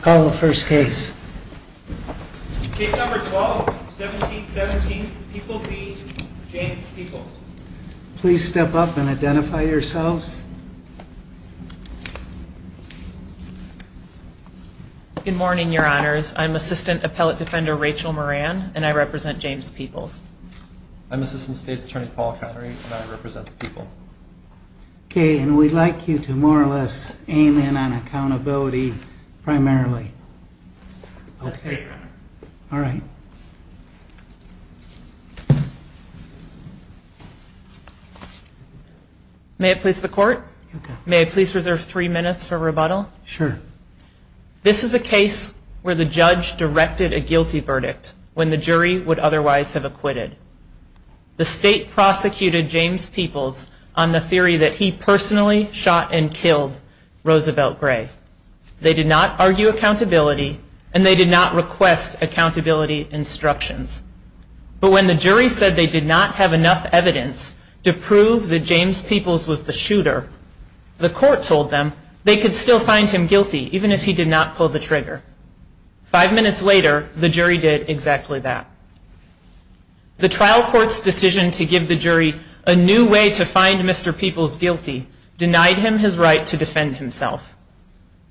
Call the first case. Case number 12, 1717, Peoples v. James Peoples. Please step up and identify yourselves. Good morning, Your Honors. I'm Assistant Appellate Defender Rachel Moran, and I represent James Peoples. I'm Assistant State's Attorney Paul Connery, and I represent the Peoples. Okay, and we'd like you to more or less aim in on accountability primarily. Okay. All right. May it please the Court? May I please reserve three minutes for rebuttal? Sure. This is a case where the judge directed a guilty verdict when the jury would otherwise have acquitted. The State prosecuted James Peoples on the theory that he personally shot and killed Roosevelt Gray. They did not argue accountability, and they did not request accountability instructions. But when the jury said they did not have enough evidence to prove that James Peoples was the shooter, the Court told them they could still find him guilty even if he did not pull the trigger. Five minutes later, the jury did exactly that. The trial court's decision to give the jury a new way to find Mr. Peoples guilty denied him his right to defend himself.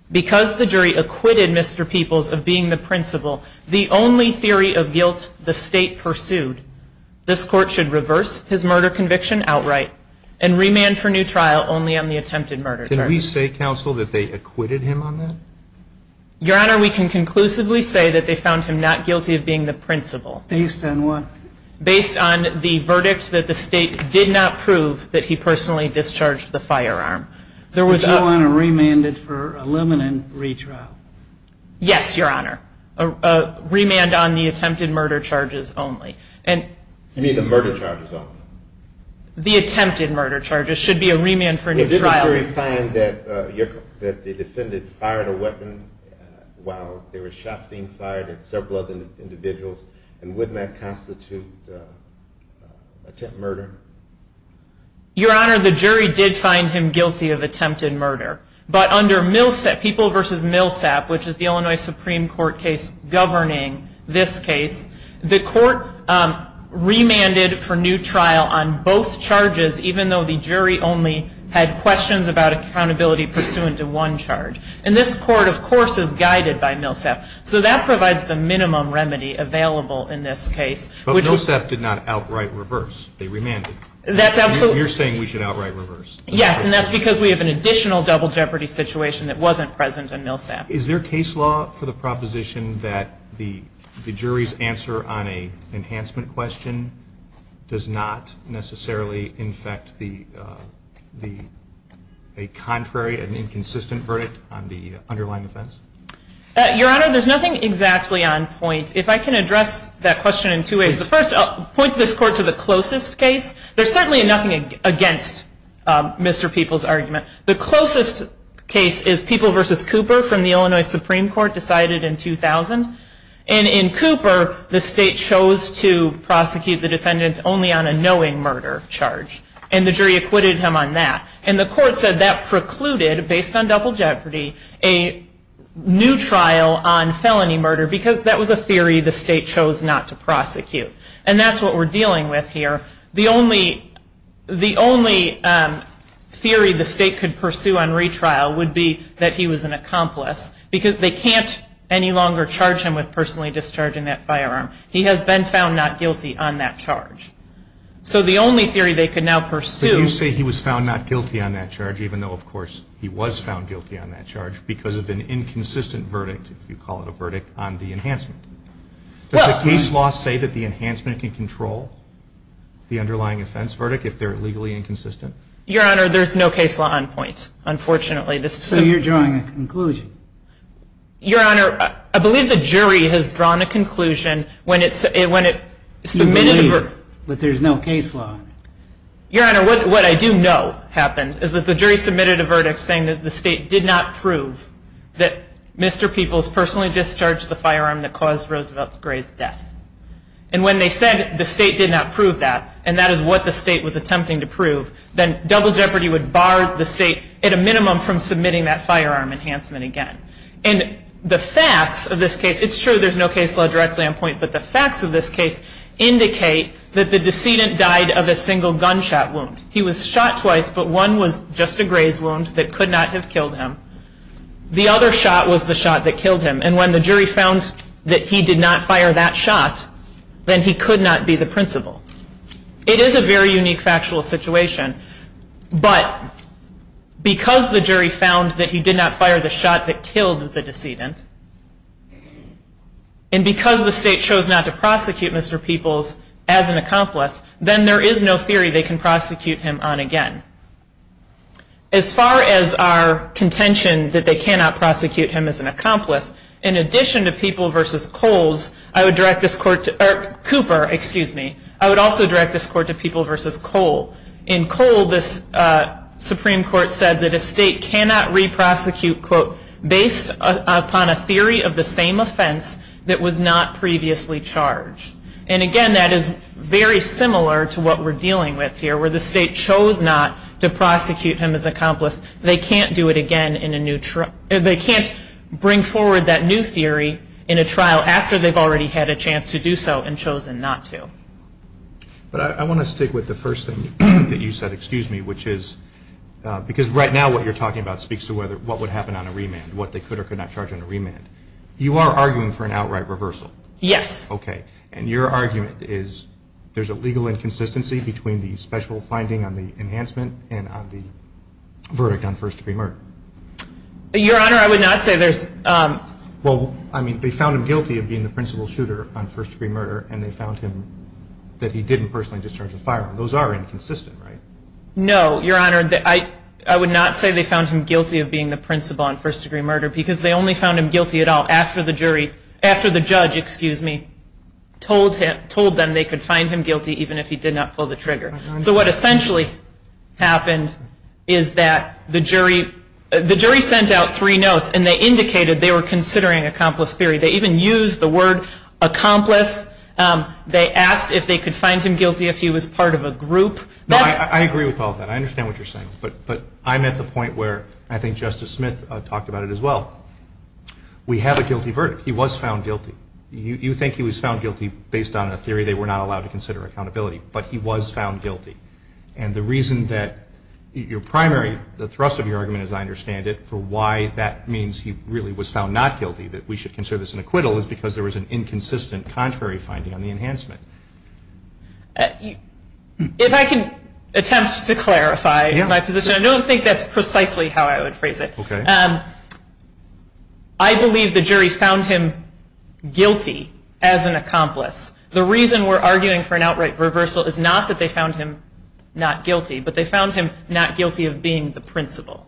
Because the jury acquitted Mr. Peoples of being the principal, the only theory of guilt the State pursued, this Court should reverse his murder conviction outright and remand for new trial only on the attempted murder charge. Can we say, Counsel, that they acquitted him on that? Your Honor, we can conclusively say that they found him not guilty of being the principal. Based on what? Based on the verdict that the State did not prove that he personally discharged the firearm. Does Your Honor remand it for a limited retrial? Yes, Your Honor. Remand on the attempted murder charges only. You mean the murder charges only? The attempted murder charges. It should be a remand for new trial. Did the jury find that the defendant fired a weapon while there were shots being fired at several other individuals? And wouldn't that constitute attempted murder? Your Honor, the jury did find him guilty of attempted murder. But under Peoples v. Millsap, which is the Illinois Supreme Court case governing this case, the Court remanded for new trial on both charges, even though the jury only had questions about accountability pursuant to one charge. And this Court, of course, is guided by Millsap. So that provides the minimum remedy available in this case. But Millsap did not outright reverse. They remanded. That's absolutely. You're saying we should outright reverse. Yes, and that's because we have an additional double jeopardy situation that wasn't present in Millsap. Is there case law for the proposition that the jury's answer on an enhancement question does not necessarily infect a contrary and inconsistent verdict on the underlying offense? Your Honor, there's nothing exactly on point. If I can address that question in two ways. The first, I'll point this Court to the closest case. The closest case is Peoples v. Cooper from the Illinois Supreme Court decided in 2000. And in Cooper, the State chose to prosecute the defendant only on a knowing murder charge. And the jury acquitted him on that. And the Court said that precluded, based on double jeopardy, a new trial on felony murder because that was a theory the State chose not to prosecute. And that's what we're dealing with here. The only theory the State could pursue on retrial would be that he was an accomplice because they can't any longer charge him with personally discharging that firearm. He has been found not guilty on that charge. So the only theory they could now pursue. But you say he was found not guilty on that charge, even though, of course, he was found guilty on that charge because of an inconsistent verdict, if you call it a verdict, on the enhancement. Does the case law say that the enhancement can control the underlying offense verdict if they're legally inconsistent? Your Honor, there's no case law on point, unfortunately. So you're drawing a conclusion. Your Honor, I believe the jury has drawn a conclusion when it submitted a verdict. You believe, but there's no case law. Your Honor, what I do know happened is that the jury submitted a verdict saying that the State did not prove that Mr. Peoples personally discharged the firearm that caused Roosevelt Gray's death. And when they said the State did not prove that, and that is what the State was attempting to prove, then double jeopardy would bar the State at a minimum from submitting that firearm enhancement again. And the facts of this case, it's true there's no case law directly on point, but the facts of this case indicate that the decedent died of a single gunshot wound. He was shot twice, but one was just a graze wound that could not have killed him. The other shot was the shot that killed him. And when the jury found that he did not fire that shot, then he could not be the principal. It is a very unique factual situation, but because the jury found that he did not fire the shot that killed the decedent, and because the State chose not to prosecute Mr. Peoples as an accomplice, then there is no theory they can prosecute him on again. As far as our contention that they cannot prosecute him as an accomplice, in addition to Cooper, I would also direct this court to Peoples v. Cole. In Cole, the Supreme Court said that a State cannot re-prosecute based upon a theory of the same offense that was not previously charged. And again, that is very similar to what we're dealing with here, where the State chose not to prosecute him as an accomplice. They can't do it again in a new trial. They can't bring forward that new theory in a trial after they've already had a chance to do so and chosen not to. But I want to stick with the first thing that you said, excuse me, which is because right now what you're talking about speaks to what would happen on a remand, what they could or could not charge on a remand. You are arguing for an outright reversal. Yes. Okay. And your argument is there's a legal inconsistency between the special finding on the enhancement and on the verdict on first-degree murder. Your Honor, I would not say there's – Well, I mean, they found him guilty of being the principal shooter on first-degree murder, and they found him that he didn't personally discharge a firearm. Those are inconsistent, right? No, Your Honor. I would not say they found him guilty of being the principal on first-degree murder because they only found him guilty at all after the judge told them they could find him guilty even if he did not pull the trigger. So what essentially happened is that the jury sent out three notes and they indicated they were considering accomplice theory. They even used the word accomplice. They asked if they could find him guilty if he was part of a group. I agree with all of that. I understand what you're saying. But I'm at the point where I think Justice Smith talked about it as well. We have a guilty verdict. He was found guilty. You think he was found guilty based on a theory they were not allowed to consider accountability, but he was found guilty. And the reason that your primary – the thrust of your argument, as I understand it, for why that means he really was found not guilty, that we should consider this an acquittal, is because there was an inconsistent contrary finding on the enhancement. If I can attempt to clarify my position, I don't think that's precisely how I would phrase it. I believe the jury found him guilty as an accomplice. The reason we're arguing for an outright reversal is not that they found him not guilty, but they found him not guilty of being the principal.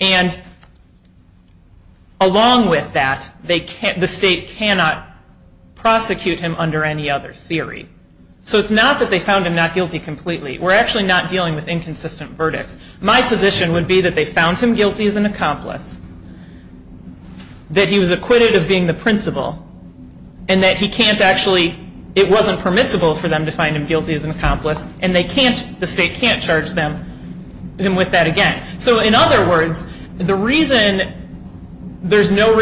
And along with that, the state cannot prosecute him under any other theory. So it's not that they found him not guilty completely. We're actually not dealing with inconsistent verdicts. My position would be that they found him guilty as an accomplice, that he was acquitted of being the principal, and that he can't actually – it wasn't permissible for them to find him guilty as an accomplice, and the state can't charge him with that again. So in other words, the reason there's no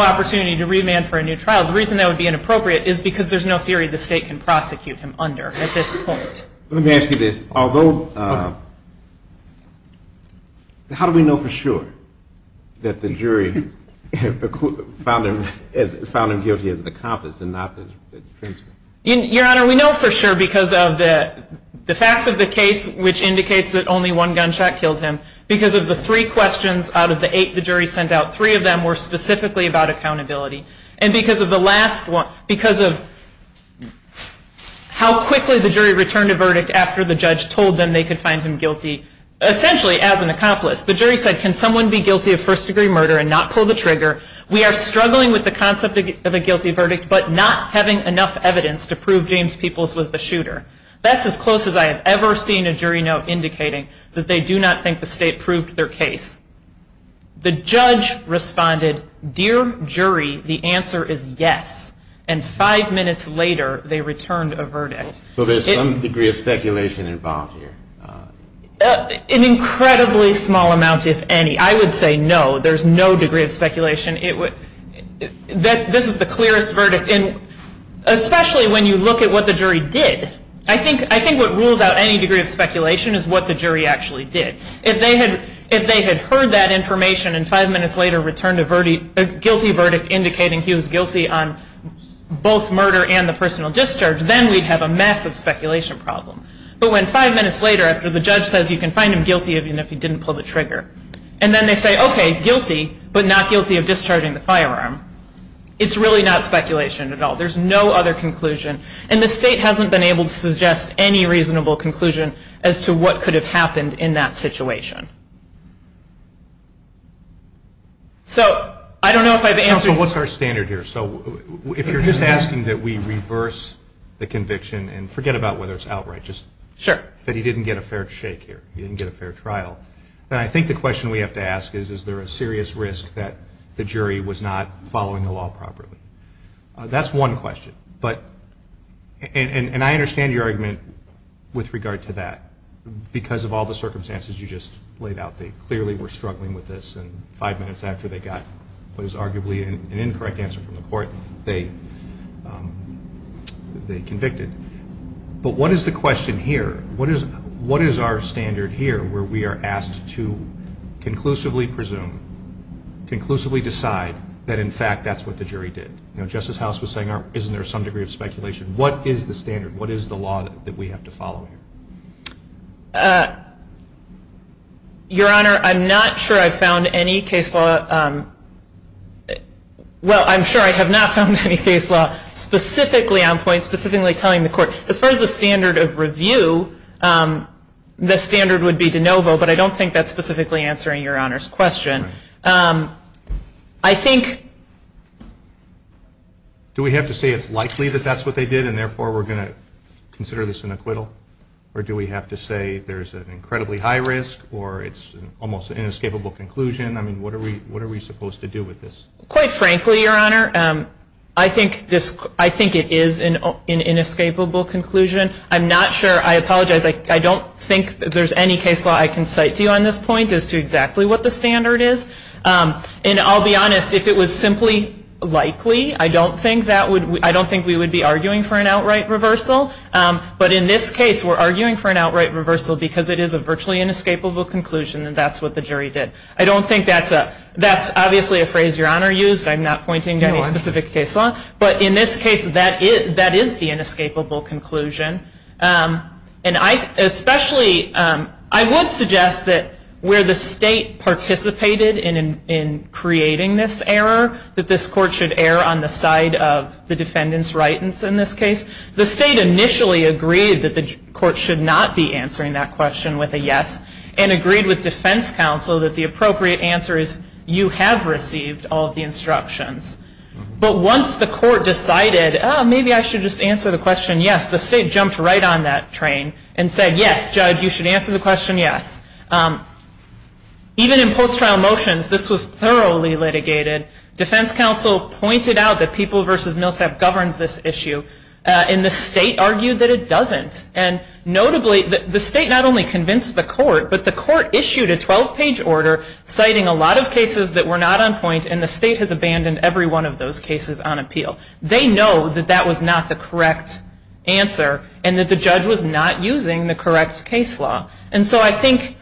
opportunity to remand for a new trial, the reason that would be inappropriate is because there's no theory the state can prosecute him under at this point. Let me ask you this. Although – how do we know for sure that the jury found him guilty as an accomplice and not the principal? Your Honor, we know for sure because of the facts of the case, which indicates that only one gunshot killed him, because of the three questions out of the eight the jury sent out, three of them were specifically about accountability, and because of the last one – because of how quickly the jury returned a verdict after the judge told them they could find him guilty essentially as an accomplice. The jury said, can someone be guilty of first-degree murder and not pull the trigger? We are struggling with the concept of a guilty verdict, but not having enough evidence to prove James Peoples was the shooter. That's as close as I have ever seen a jury note indicating that they do not think the state proved their case. The judge responded, dear jury, the answer is yes, and five minutes later they returned a verdict. So there's some degree of speculation involved here. An incredibly small amount, if any. I would say no, there's no degree of speculation. This is the clearest verdict, especially when you look at what the jury did. I think what rules out any degree of speculation is what the jury actually did. If they had heard that information and five minutes later returned a guilty verdict indicating he was guilty on both murder and the personal discharge, then we'd have a massive speculation problem. But when five minutes later, after the judge says you can find him guilty even if he didn't pull the trigger, and then they say, okay, guilty, but not guilty of discharging the firearm, it's really not speculation at all. There's no other conclusion, and the state hasn't been able to suggest any reasonable conclusion as to what could have happened in that situation. So I don't know if I've answered your question. But what's our standard here? So if you're just asking that we reverse the conviction and forget about whether it's outright, just that he didn't get a fair shake here, he didn't get a fair trial, then I think the question we have to ask is, is there a serious risk that the jury was not following the law properly? That's one question, and I understand your argument with regard to that. Because of all the circumstances you just laid out, they clearly were struggling with this, and five minutes after they got what is arguably an incorrect answer from the court, they convicted. But what is the question here? What is our standard here where we are asked to conclusively presume, conclusively decide that, in fact, that's what the jury did? You know, Justice House was saying, isn't there some degree of speculation? What is the standard? What is the law that we have to follow here? Your Honor, I'm not sure I've found any case law. Well, I'm sure I have not found any case law specifically on point, specifically telling the court. As far as the standard of review, the standard would be de novo, but I don't think that's specifically answering Your Honor's question. I think... Do we have to say it's likely that that's what they did and therefore we're going to consider this an acquittal? Or do we have to say there's an incredibly high risk or it's almost an inescapable conclusion? I mean, what are we supposed to do with this? Quite frankly, Your Honor, I think it is an inescapable conclusion. I'm not sure. I apologize. I don't think there's any case law I can cite to you on this point as to exactly what the standard is. And I'll be honest, if it was simply likely, I don't think we would be arguing for an outright reversal. But in this case, we're arguing for an outright reversal because it is a virtually inescapable conclusion and that's what the jury did. I don't think that's a... That's obviously a phrase Your Honor used. I'm not pointing to any specific case law. But in this case, that is the inescapable conclusion. And I especially... I would suggest that where the state participated in creating this error, that this court should err on the side of the defendant's right in this case. The state initially agreed that the court should not be answering that question with a yes and agreed with defense counsel that the appropriate answer is, you have received all of the instructions. But once the court decided, maybe I should just answer the question yes, the state jumped right on that train and said, yes, judge, you should answer the question yes. Even in post-trial motions, this was thoroughly litigated. Defense counsel pointed out that People v. Millsap governs this issue and the state argued that it doesn't. And notably, the state not only convinced the court, but the court issued a 12-page order citing a lot of cases that were not on point and the state has abandoned every one of those cases on appeal. They know that that was not the correct answer and that the judge was not using the correct case law. And so I think...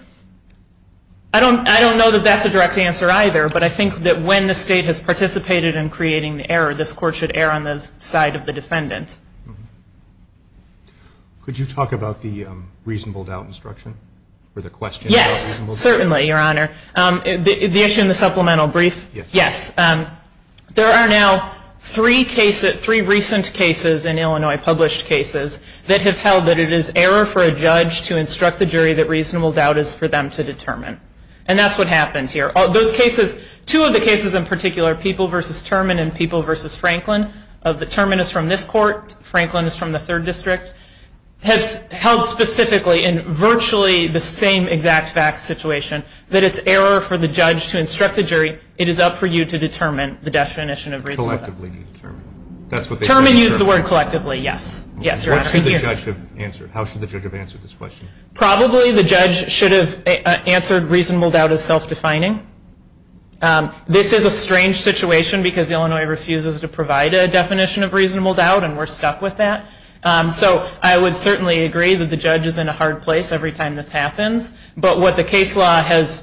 I don't know that that's a direct answer either, but I think that when the state has participated in creating the error, this court should err on the side of the defendant. Could you talk about the reasonable doubt instruction? Yes, certainly, Your Honor. The issue in the supplemental brief? Yes. There are now three recent cases in Illinois, published cases, that have held that it is error for a judge to instruct the jury that reasonable doubt is for them to determine. And that's what happens here. Two of the cases in particular, People v. Turman and People v. Franklin, Turman is from this court, Franklin is from the third district, have held specifically in virtually the same exact fact situation that it's error for the judge to instruct the jury, it is up for you to determine the definition of reasonable doubt. Collectively. Turman used the word collectively, yes. What should the judge have answered? How should the judge have answered this question? Probably the judge should have answered reasonable doubt as self-defining. This is a strange situation, because Illinois refuses to provide a definition of reasonable doubt, and we're stuck with that. So I would certainly agree that the judge is in a hard place every time this happens. But what the case law has,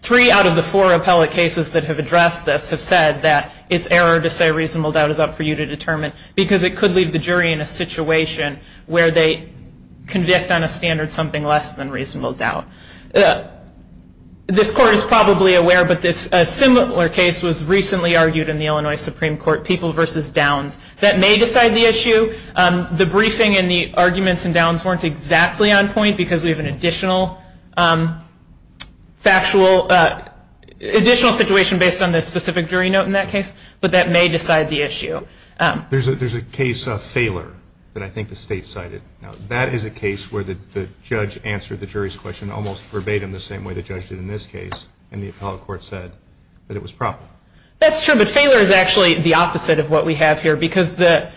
three out of the four appellate cases that have addressed this have said that it's error to say reasonable doubt is up for you to determine, because it could leave the jury in a situation where they convict on a standard something less than reasonable doubt. This court is probably aware, but a similar case was recently argued in the Illinois Supreme Court, people versus downs. That may decide the issue. The briefing and the arguments and downs weren't exactly on point, because we have an additional factual, additional situation based on the specific jury note in that case, but that may decide the issue. There's a case of failure that I think the state cited. Now, that is a case where the judge answered the jury's question almost verbatim the same way the judge did in this case, and the appellate court said that it was proper. That's true, but failure is actually the opposite of what we have here, because the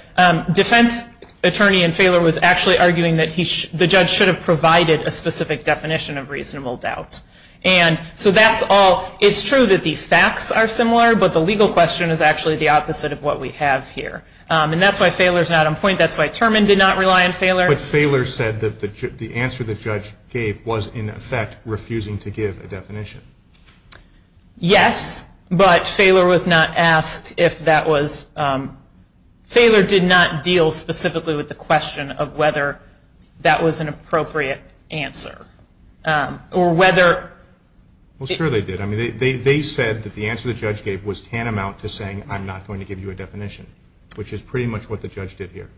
defense attorney in failure was actually arguing that the judge should have provided a specific definition of reasonable doubt. And so that's all. It's true that the facts are similar, but the legal question is actually the opposite of what we have here. And that's why failure is not on point. That's why Turman did not rely on failure. But failure said that the answer the judge gave was, in effect, refusing to give a definition. Yes, but failure was not asked if that was – failure did not deal specifically with the question of whether that was an appropriate answer, or whether – Well, sure they did. I mean, they said that the answer the judge gave was tantamount to saying, I'm not going to give you a definition, which is pretty much what the judge did here.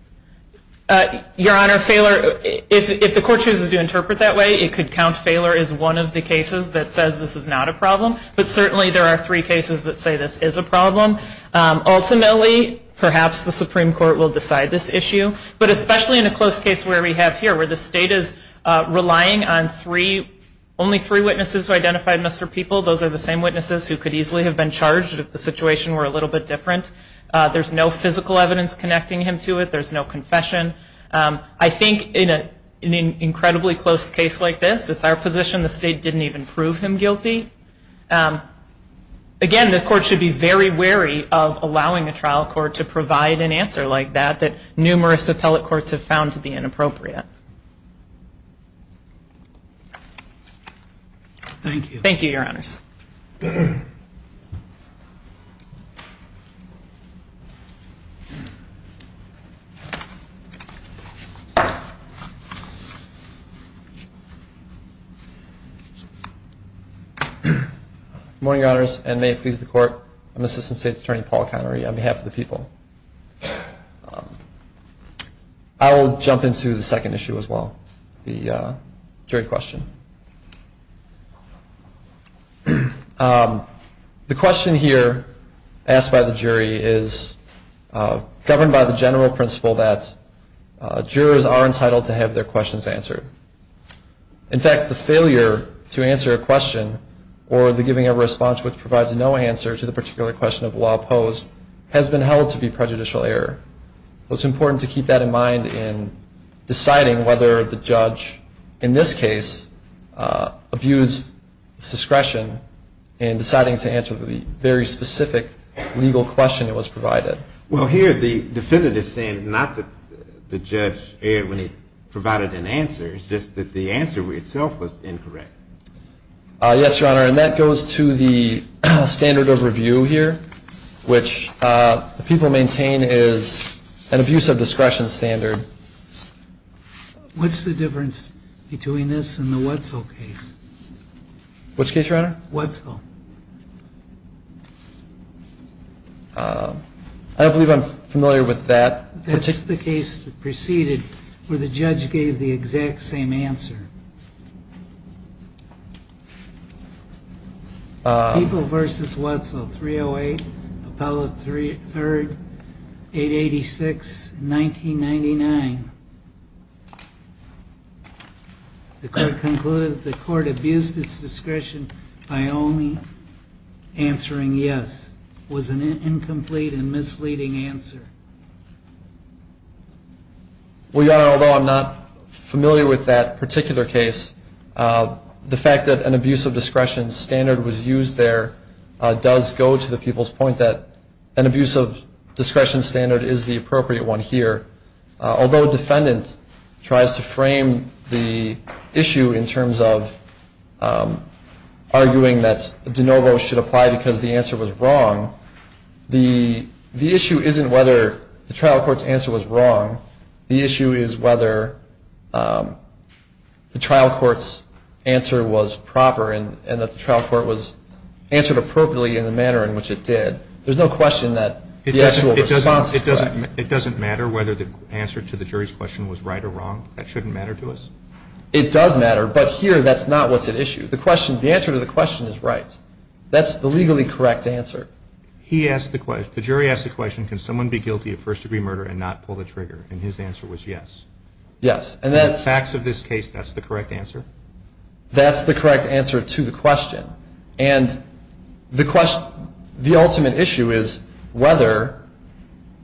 Your Honor, failure – if the court chooses to interpret that way, it could count failure as one of the cases that says this is not a problem, but certainly there are three cases that say this is a problem. Ultimately, perhaps the Supreme Court will decide this issue, but especially in a close case where we have here, where the state is relying on three – only three witnesses who identified Mr. People. Those are the same witnesses who could easily have been charged if the situation were a little bit different. There's no physical evidence connecting him to it. There's no confession. I think in an incredibly close case like this, it's our position the state didn't even prove him guilty. Again, the court should be very wary of allowing a trial court to provide an answer like that, that numerous appellate courts have found to be inappropriate. Thank you. Thank you, Your Honors. Good morning, Your Honors, and may it please the Court, I'm Assistant State's Attorney Paul Connery on behalf of the People. I will jump into the second issue as well, the jury question. The question here asked by the jury is governed by the general principle that jurors are entitled to have their questions answered. In fact, the failure to answer a question or the giving of a response which provides no answer to the particular question of law opposed has been held to be prejudicial error. It's important to keep that in mind in deciding whether the judge in this case abused discretion in deciding to answer the very specific legal question that was provided. Well, here the defendant is saying not that the judge erred when he provided an answer, it's just that the answer itself was incorrect. Yes, Your Honor, and that goes to the standard of review here, which the People maintain is an abuse of discretion standard. What's the difference between this and the Wetzel case? Which case, Your Honor? Wetzel. I don't believe I'm familiar with that. That's the case that preceded where the judge gave the exact same answer. People v. Wetzel, 308, appellate 3rd, 886, 1999. The court concluded that the court abused its discretion by only answering yes. That was an incomplete and misleading answer. Well, Your Honor, although I'm not familiar with that particular case, the fact that an abuse of discretion standard was used there does go to the People's point that an abuse of discretion standard is the appropriate one here. Although a defendant tries to frame the issue in terms of arguing that de novo should apply because the answer was wrong, the issue isn't whether the trial court's answer was wrong. The issue is whether the trial court's answer was proper and that the trial court was answered appropriately in the manner in which it did. There's no question that the actual response is correct. It doesn't matter whether the answer to the jury's question was right or wrong? That shouldn't matter to us? It does matter, but here that's not what's at issue. The answer to the question is right. That's the legally correct answer. He asked the question, the jury asked the question, can someone be guilty of first-degree murder and not pull the trigger? And his answer was yes. Yes. In the facts of this case, that's the correct answer? That's the correct answer to the question. And the question, the ultimate issue is whether,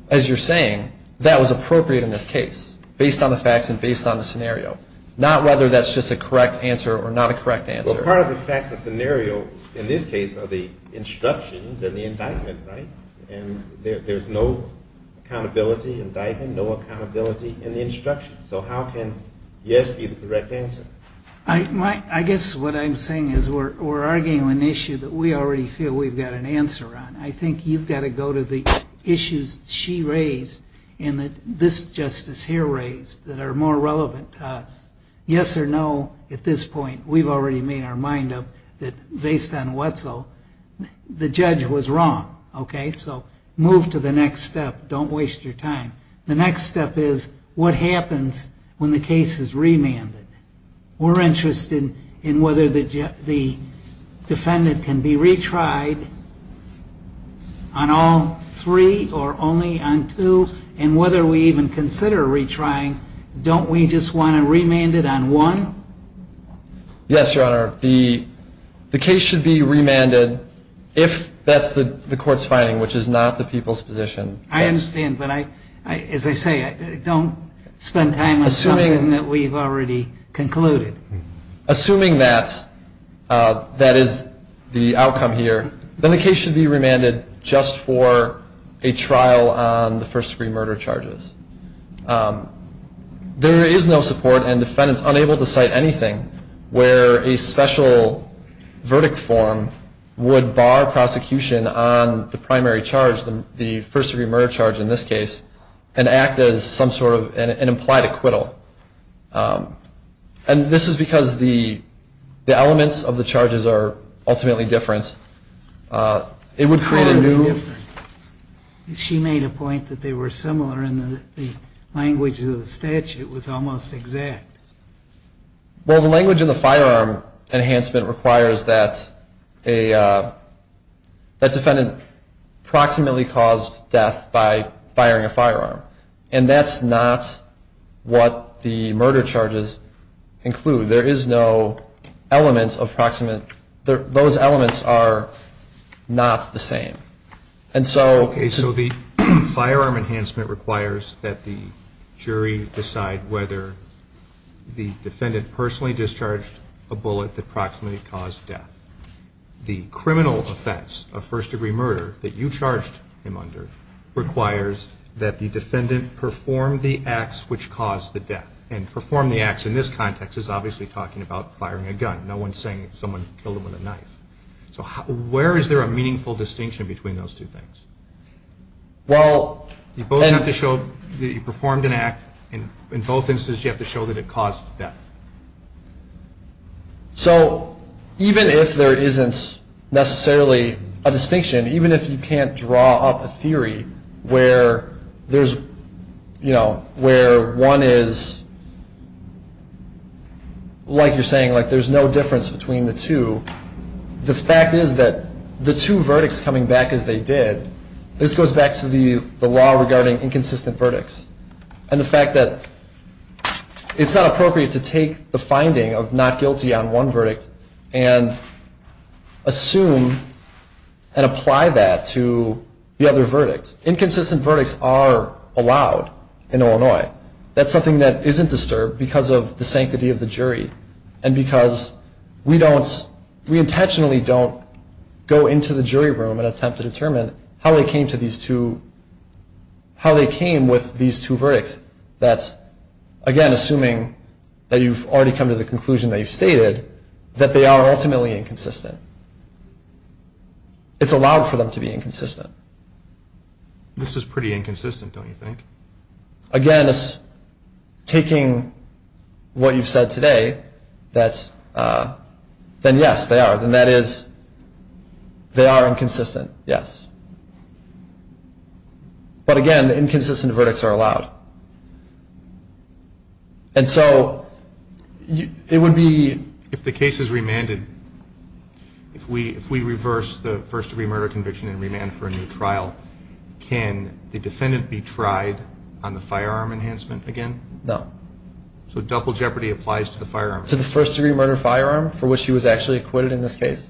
as you're saying, that was appropriate in this case based on the facts and based on the scenario, not whether that's just a correct answer or not a correct answer. Well, part of the facts and scenario in this case are the instructions and the indictment, right? And there's no accountability, indictment, no accountability in the instructions. So how can yes be the correct answer? I guess what I'm saying is we're arguing an issue that we already feel we've got an answer on. I think you've got to go to the issues she raised and that this justice here raised that are more relevant to us. Yes or no at this point, we've already made our mind up that based on what's so, the judge was wrong, okay? So move to the next step. Don't waste your time. The next step is what happens when the case is remanded? We're interested in whether the defendant can be retried on all three or only on two, and whether we even consider retrying, don't we just want to remand it on one? Yes, Your Honor. The case should be remanded if that's the court's finding, which is not the people's position. I understand, but as I say, don't spend time on something that we've already concluded. Assuming that that is the outcome here, then the case should be remanded just for a trial on the first degree murder charges. There is no support and defendants unable to cite anything where a special verdict form would bar prosecution on the primary charge, the first degree murder charge in this case, and act as some sort of an implied acquittal. And this is because the elements of the charges are ultimately different. It would create a new... How are they different? She made a point that they were similar and the language of the statute was almost exact. Well, the language of the firearm enhancement requires that a defendant approximately caused death by firing a firearm. And that's not what the murder charges include. There is no element of approximate... Those elements are not the same. Okay, so the firearm enhancement requires that the jury decide whether the defendant personally discharged a bullet that approximately caused death. The criminal offense of first degree murder that you charged him under requires that the defendant perform the acts which caused the death. And perform the acts in this context is obviously talking about firing a gun. No one's saying someone killed him with a knife. So where is there a meaningful distinction between those two things? Well... You both have to show that you performed an act. In both instances, you have to show that it caused death. So even if there isn't necessarily a distinction, even if you can't draw up a theory where one is... The fact is that the two verdicts coming back as they did, this goes back to the law regarding inconsistent verdicts. And the fact that it's not appropriate to take the finding of not guilty on one verdict and assume and apply that to the other verdict. Inconsistent verdicts are allowed in Illinois. That's something that isn't disturbed because of the sanctity of the jury. And because we don't... We intentionally don't go into the jury room and attempt to determine how they came to these two... How they came with these two verdicts. That's, again, assuming that you've already come to the conclusion that you've stated that they are ultimately inconsistent. It's allowed for them to be inconsistent. This is pretty inconsistent, don't you think? Again, taking what you've said today, that's... Then, yes, they are. Then that is... They are inconsistent, yes. But, again, inconsistent verdicts are allowed. And so it would be... If the case is remanded, if we reverse the first-degree murder conviction and remand for a new trial, can the defendant be tried on the firearm enhancement again? No. So double jeopardy applies to the firearm? To the first-degree murder firearm for which he was actually acquitted in this case.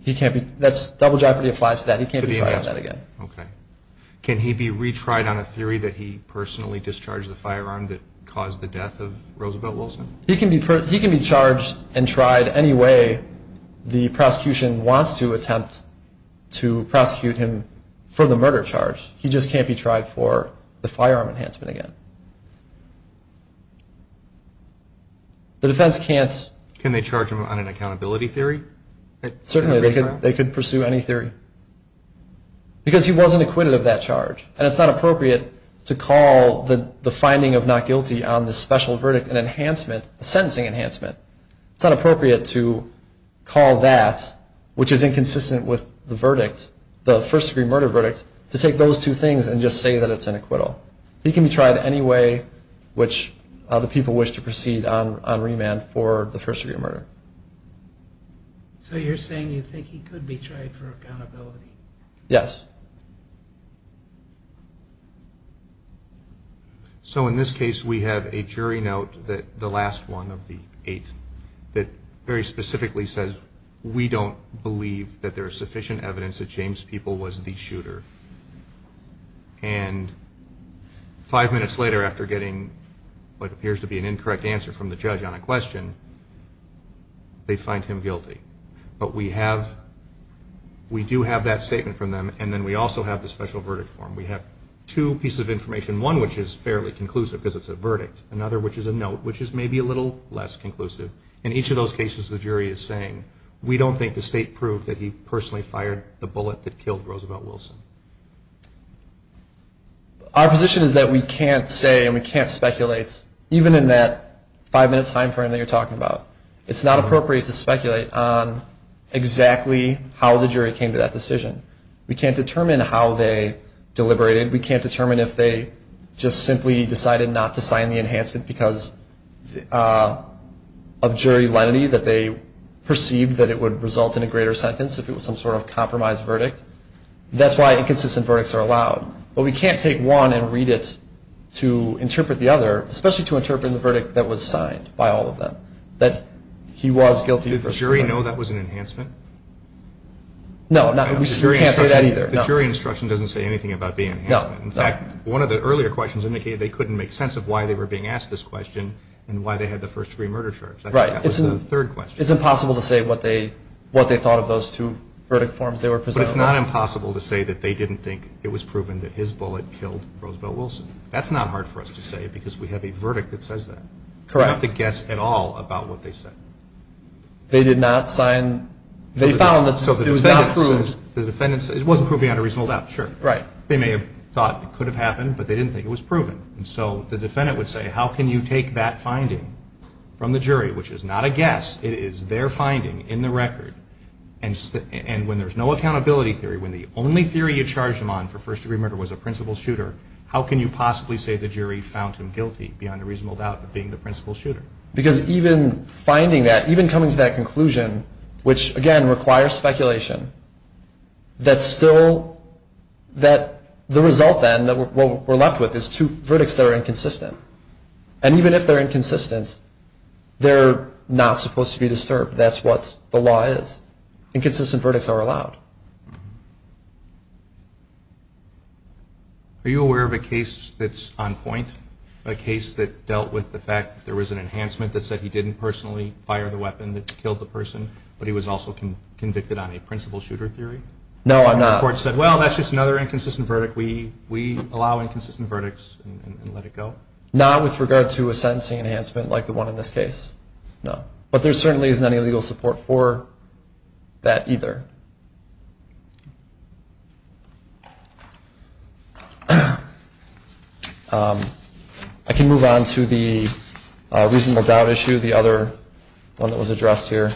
He can't be... That's... Double jeopardy applies to that. He can't be tried on that again. Okay. Can he be retried on a theory that he personally discharged the firearm that caused the death of Roosevelt Wilson? He can be charged and tried any way the prosecution wants to attempt to prosecute him for the murder charge. He just can't be tried for the firearm enhancement again. The defense can't... Can they charge him on an accountability theory? Certainly. They could pursue any theory. Because he wasn't acquitted of that charge. And it's not appropriate to call the finding of not guilty on the special verdict an enhancement, a sentencing enhancement. It's not appropriate to call that, which is inconsistent with the verdict, the first-degree murder verdict, to take those two things and just say that it's an acquittal. He can be tried any way which other people wish to proceed on remand for the first-degree murder. So you're saying you think he could be tried for accountability? Yes. So in this case, we have a jury note, the last one of the eight, that very specifically says, we don't believe that there is sufficient evidence that James People was the shooter. And five minutes later, after getting what appears to be an incorrect answer from the judge on a question, they find him guilty. But we do have that statement from them, and then we also have the special verdict form. We have two pieces of information, one which is fairly conclusive because it's a verdict, another which is a note, which is maybe a little less conclusive. In each of those cases, the jury is saying, we don't think the state proved that he personally fired the bullet that killed Roosevelt Wilson. Our position is that we can't say and we can't speculate, even in that five-minute time frame that you're talking about. It's not appropriate to speculate on exactly how the jury came to that decision. We can't determine how they deliberated. We can't determine if they just simply decided not to sign the enhancement because of jury lenity, that they perceived that it would result in a greater sentence if it was some sort of compromised verdict. That's why inconsistent verdicts are allowed. But we can't take one and read it to interpret the other, especially to interpret the verdict that was signed by all of them, that he was guilty. Did the jury know that was an enhancement? No, we can't say that either. The jury instruction doesn't say anything about being an enhancement. In fact, one of the earlier questions indicated they couldn't make sense of why they were being asked this question and why they had the first-degree murder charge. That was the third question. It's impossible to say what they thought of those two verdict forms they were presenting. But it's not impossible to say that they didn't think it was proven that his bullet killed Roosevelt Wilson. That's not hard for us to say because we have a verdict that says that. Correct. We don't have to guess at all about what they said. They did not sign. They found that it was not proved. It wasn't proven beyond a reasonable doubt, sure. Right. They may have thought it could have happened, but they didn't think it was proven. And so the defendant would say, how can you take that finding from the jury, which is not a guess, it is their finding in the record, and when there's no accountability theory, when the only theory you charged him on for first-degree murder was a principal shooter, how can you possibly say the jury found him guilty beyond a reasonable doubt of being the principal shooter? Because even finding that, even coming to that conclusion, which, again, requires speculation, that still the result then, what we're left with is two verdicts that are inconsistent. And even if they're inconsistent, they're not supposed to be disturbed. That's what the law is. Inconsistent verdicts are allowed. Are you aware of a case that's on point, a case that dealt with the fact that there was an enhancement that said he didn't personally fire the weapon that killed the person, but he was also convicted on a principal shooter theory? No, I'm not. And the court said, well, that's just another inconsistent verdict. We allow inconsistent verdicts and let it go? Not with regard to a sentencing enhancement like the one in this case, no. But there certainly isn't any legal support for that either. I can move on to the reasonable doubt issue, the other one that was addressed here.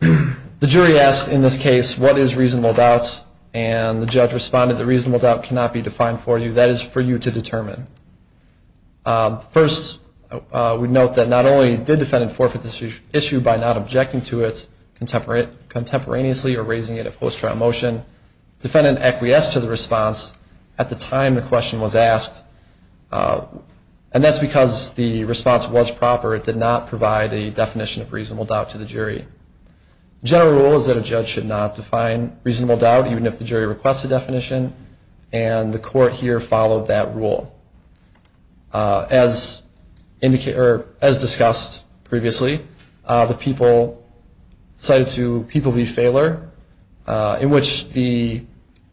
The jury asked in this case what is reasonable doubt, and the judge responded that reasonable doubt cannot be defined for you. That is for you to determine. First, we note that not only did defendant forfeit this issue by not objecting to it contemporaneously or raising it at post-trial motion, defendant acquiesced to the response at the time the question was asked. And that's because the response was proper. It did not provide a definition of reasonable doubt to the jury. The general rule is that a judge should not define reasonable doubt, even if the jury requests a definition, and the court here followed that rule. As discussed previously, the people cited to people v. Fahler, in which the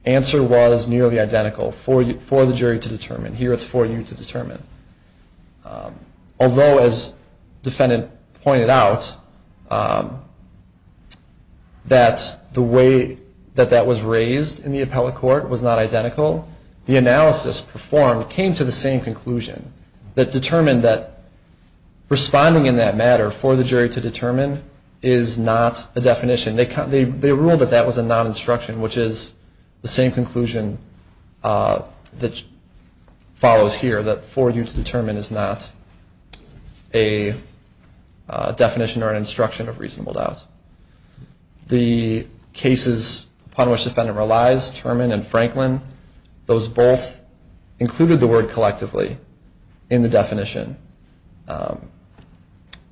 answer was nearly identical for the jury to determine. Here it's for you to determine. Although, as defendant pointed out, that the way that that was raised in the appellate court was not identical, the analysis performed came to the same conclusion that determined that responding in that matter for the jury to determine is not a definition. They ruled that that was a non-instruction, which is the same conclusion that follows here, that for you to determine is not a definition or an instruction of reasonable doubt. The cases upon which the defendant relies, Terman and Franklin, those both included the word collectively in the definition.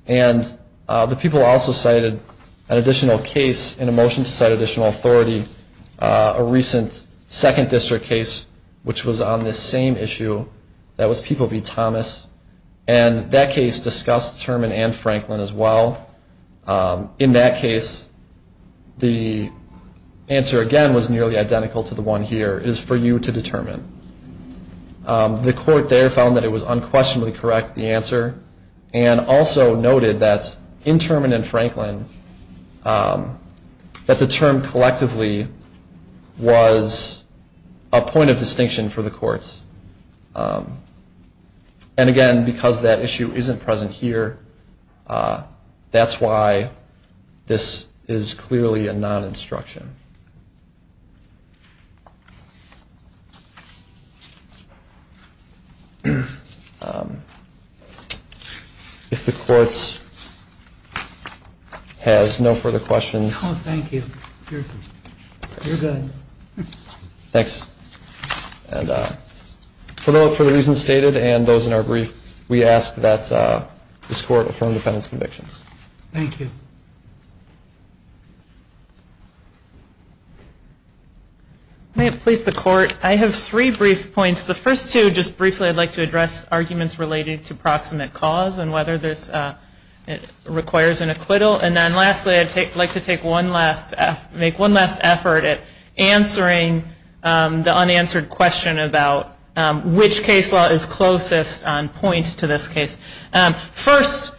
And the people also cited an additional case in a motion to cite additional authority, a recent second district case which was on this same issue that was people v. Thomas. And that case discussed Terman and Franklin as well. In that case, the answer, again, was nearly identical to the one here. It is for you to determine. The court there found that it was unquestionably correct, the answer, and also noted that in Terman and Franklin that the term collectively was a point of distinction for the courts. And, again, because that issue isn't present here, that's why this is clearly a non-instruction. If the court has no further questions. Oh, thank you. You're good. Thanks. And for the reasons stated and those in our brief, we ask that this court affirm defendant's convictions. Thank you. May it please the court, I have three brief points. The first two, just briefly, I'd like to address arguments related to proximate cause and whether this requires an acquittal. And then, lastly, I'd like to make one last effort at answering the unanswered question about which case law is closest on point to this case. First,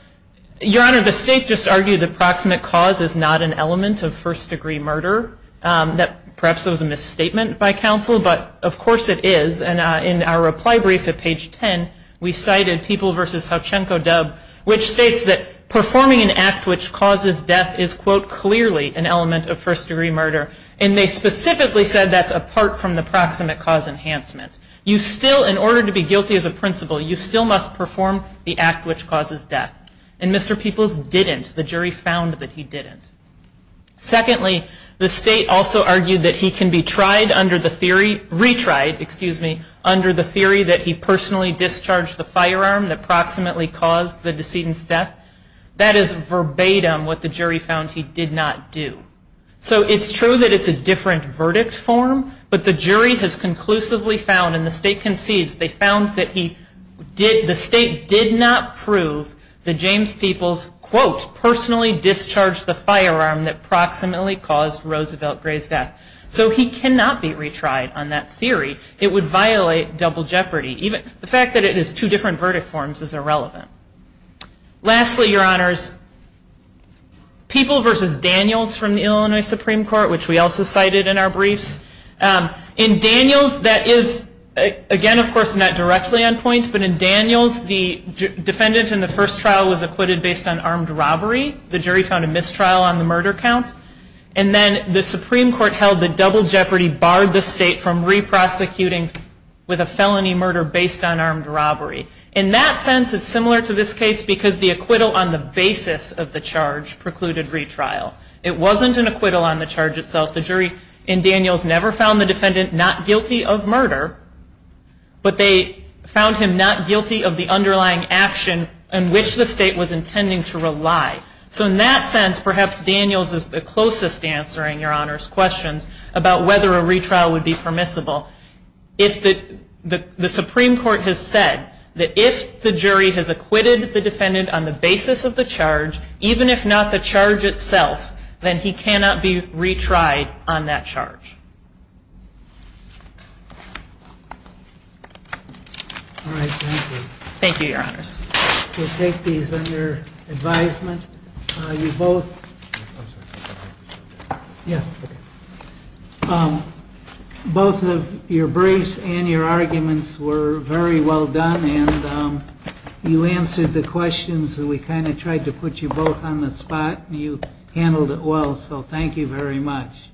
Your Honor, the state just argued that proximate cause is not an element of first-degree murder. Perhaps that was a misstatement by counsel, but, of course, it is. And in our reply brief at page 10, we cited People v. Sauchenko-Dubb, which states that performing an act which causes death is, quote, clearly an element of first-degree murder. And they specifically said that's apart from the proximate cause enhancement. You still, in order to be guilty as a principal, you still must perform the act which causes death. And Mr. Peoples didn't. The jury found that he didn't. Secondly, the state also argued that he can be tried under the theory, retried, excuse me, under the theory that he personally discharged the firearm that proximately caused the decedent's death. That is verbatim what the jury found he did not do. So it's true that it's a different verdict form, but the jury has conclusively found, and the state concedes, they found that the state did not prove that James Peoples, quote, personally discharged the firearm that proximately caused Roosevelt Gray's death. So he cannot be retried on that theory. It would violate double jeopardy. The fact that it is two different verdict forms is irrelevant. Lastly, your honors, Peoples versus Daniels from the Illinois Supreme Court, which we also cited in our briefs. In Daniels, that is, again, of course, not directly on point, but in Daniels the defendant in the first trial was acquitted based on armed robbery. The jury found a mistrial on the murder count. And then the Supreme Court held that double jeopardy barred the state from re-prosecuting with a felony murder based on armed robbery. In that sense, it's similar to this case because the acquittal on the basis of the charge precluded retrial. It wasn't an acquittal on the charge itself. The jury in Daniels never found the defendant not guilty of murder, but they found him not guilty of the underlying action in which the state was intending to rely. So in that sense, perhaps Daniels is the closest answer in your honors' questions about whether a retrial would be permissible. The Supreme Court has said that if the jury has acquitted the defendant on the basis of the charge, even if not the charge itself, then he cannot be retried on that charge. All right. Thank you. Thank you, your honors. We'll take these under advisement. You both, both of your briefs and your arguments were very well done, and you answered the questions, and we kind of tried to put you both on the spot, and you handled it well, so thank you very much.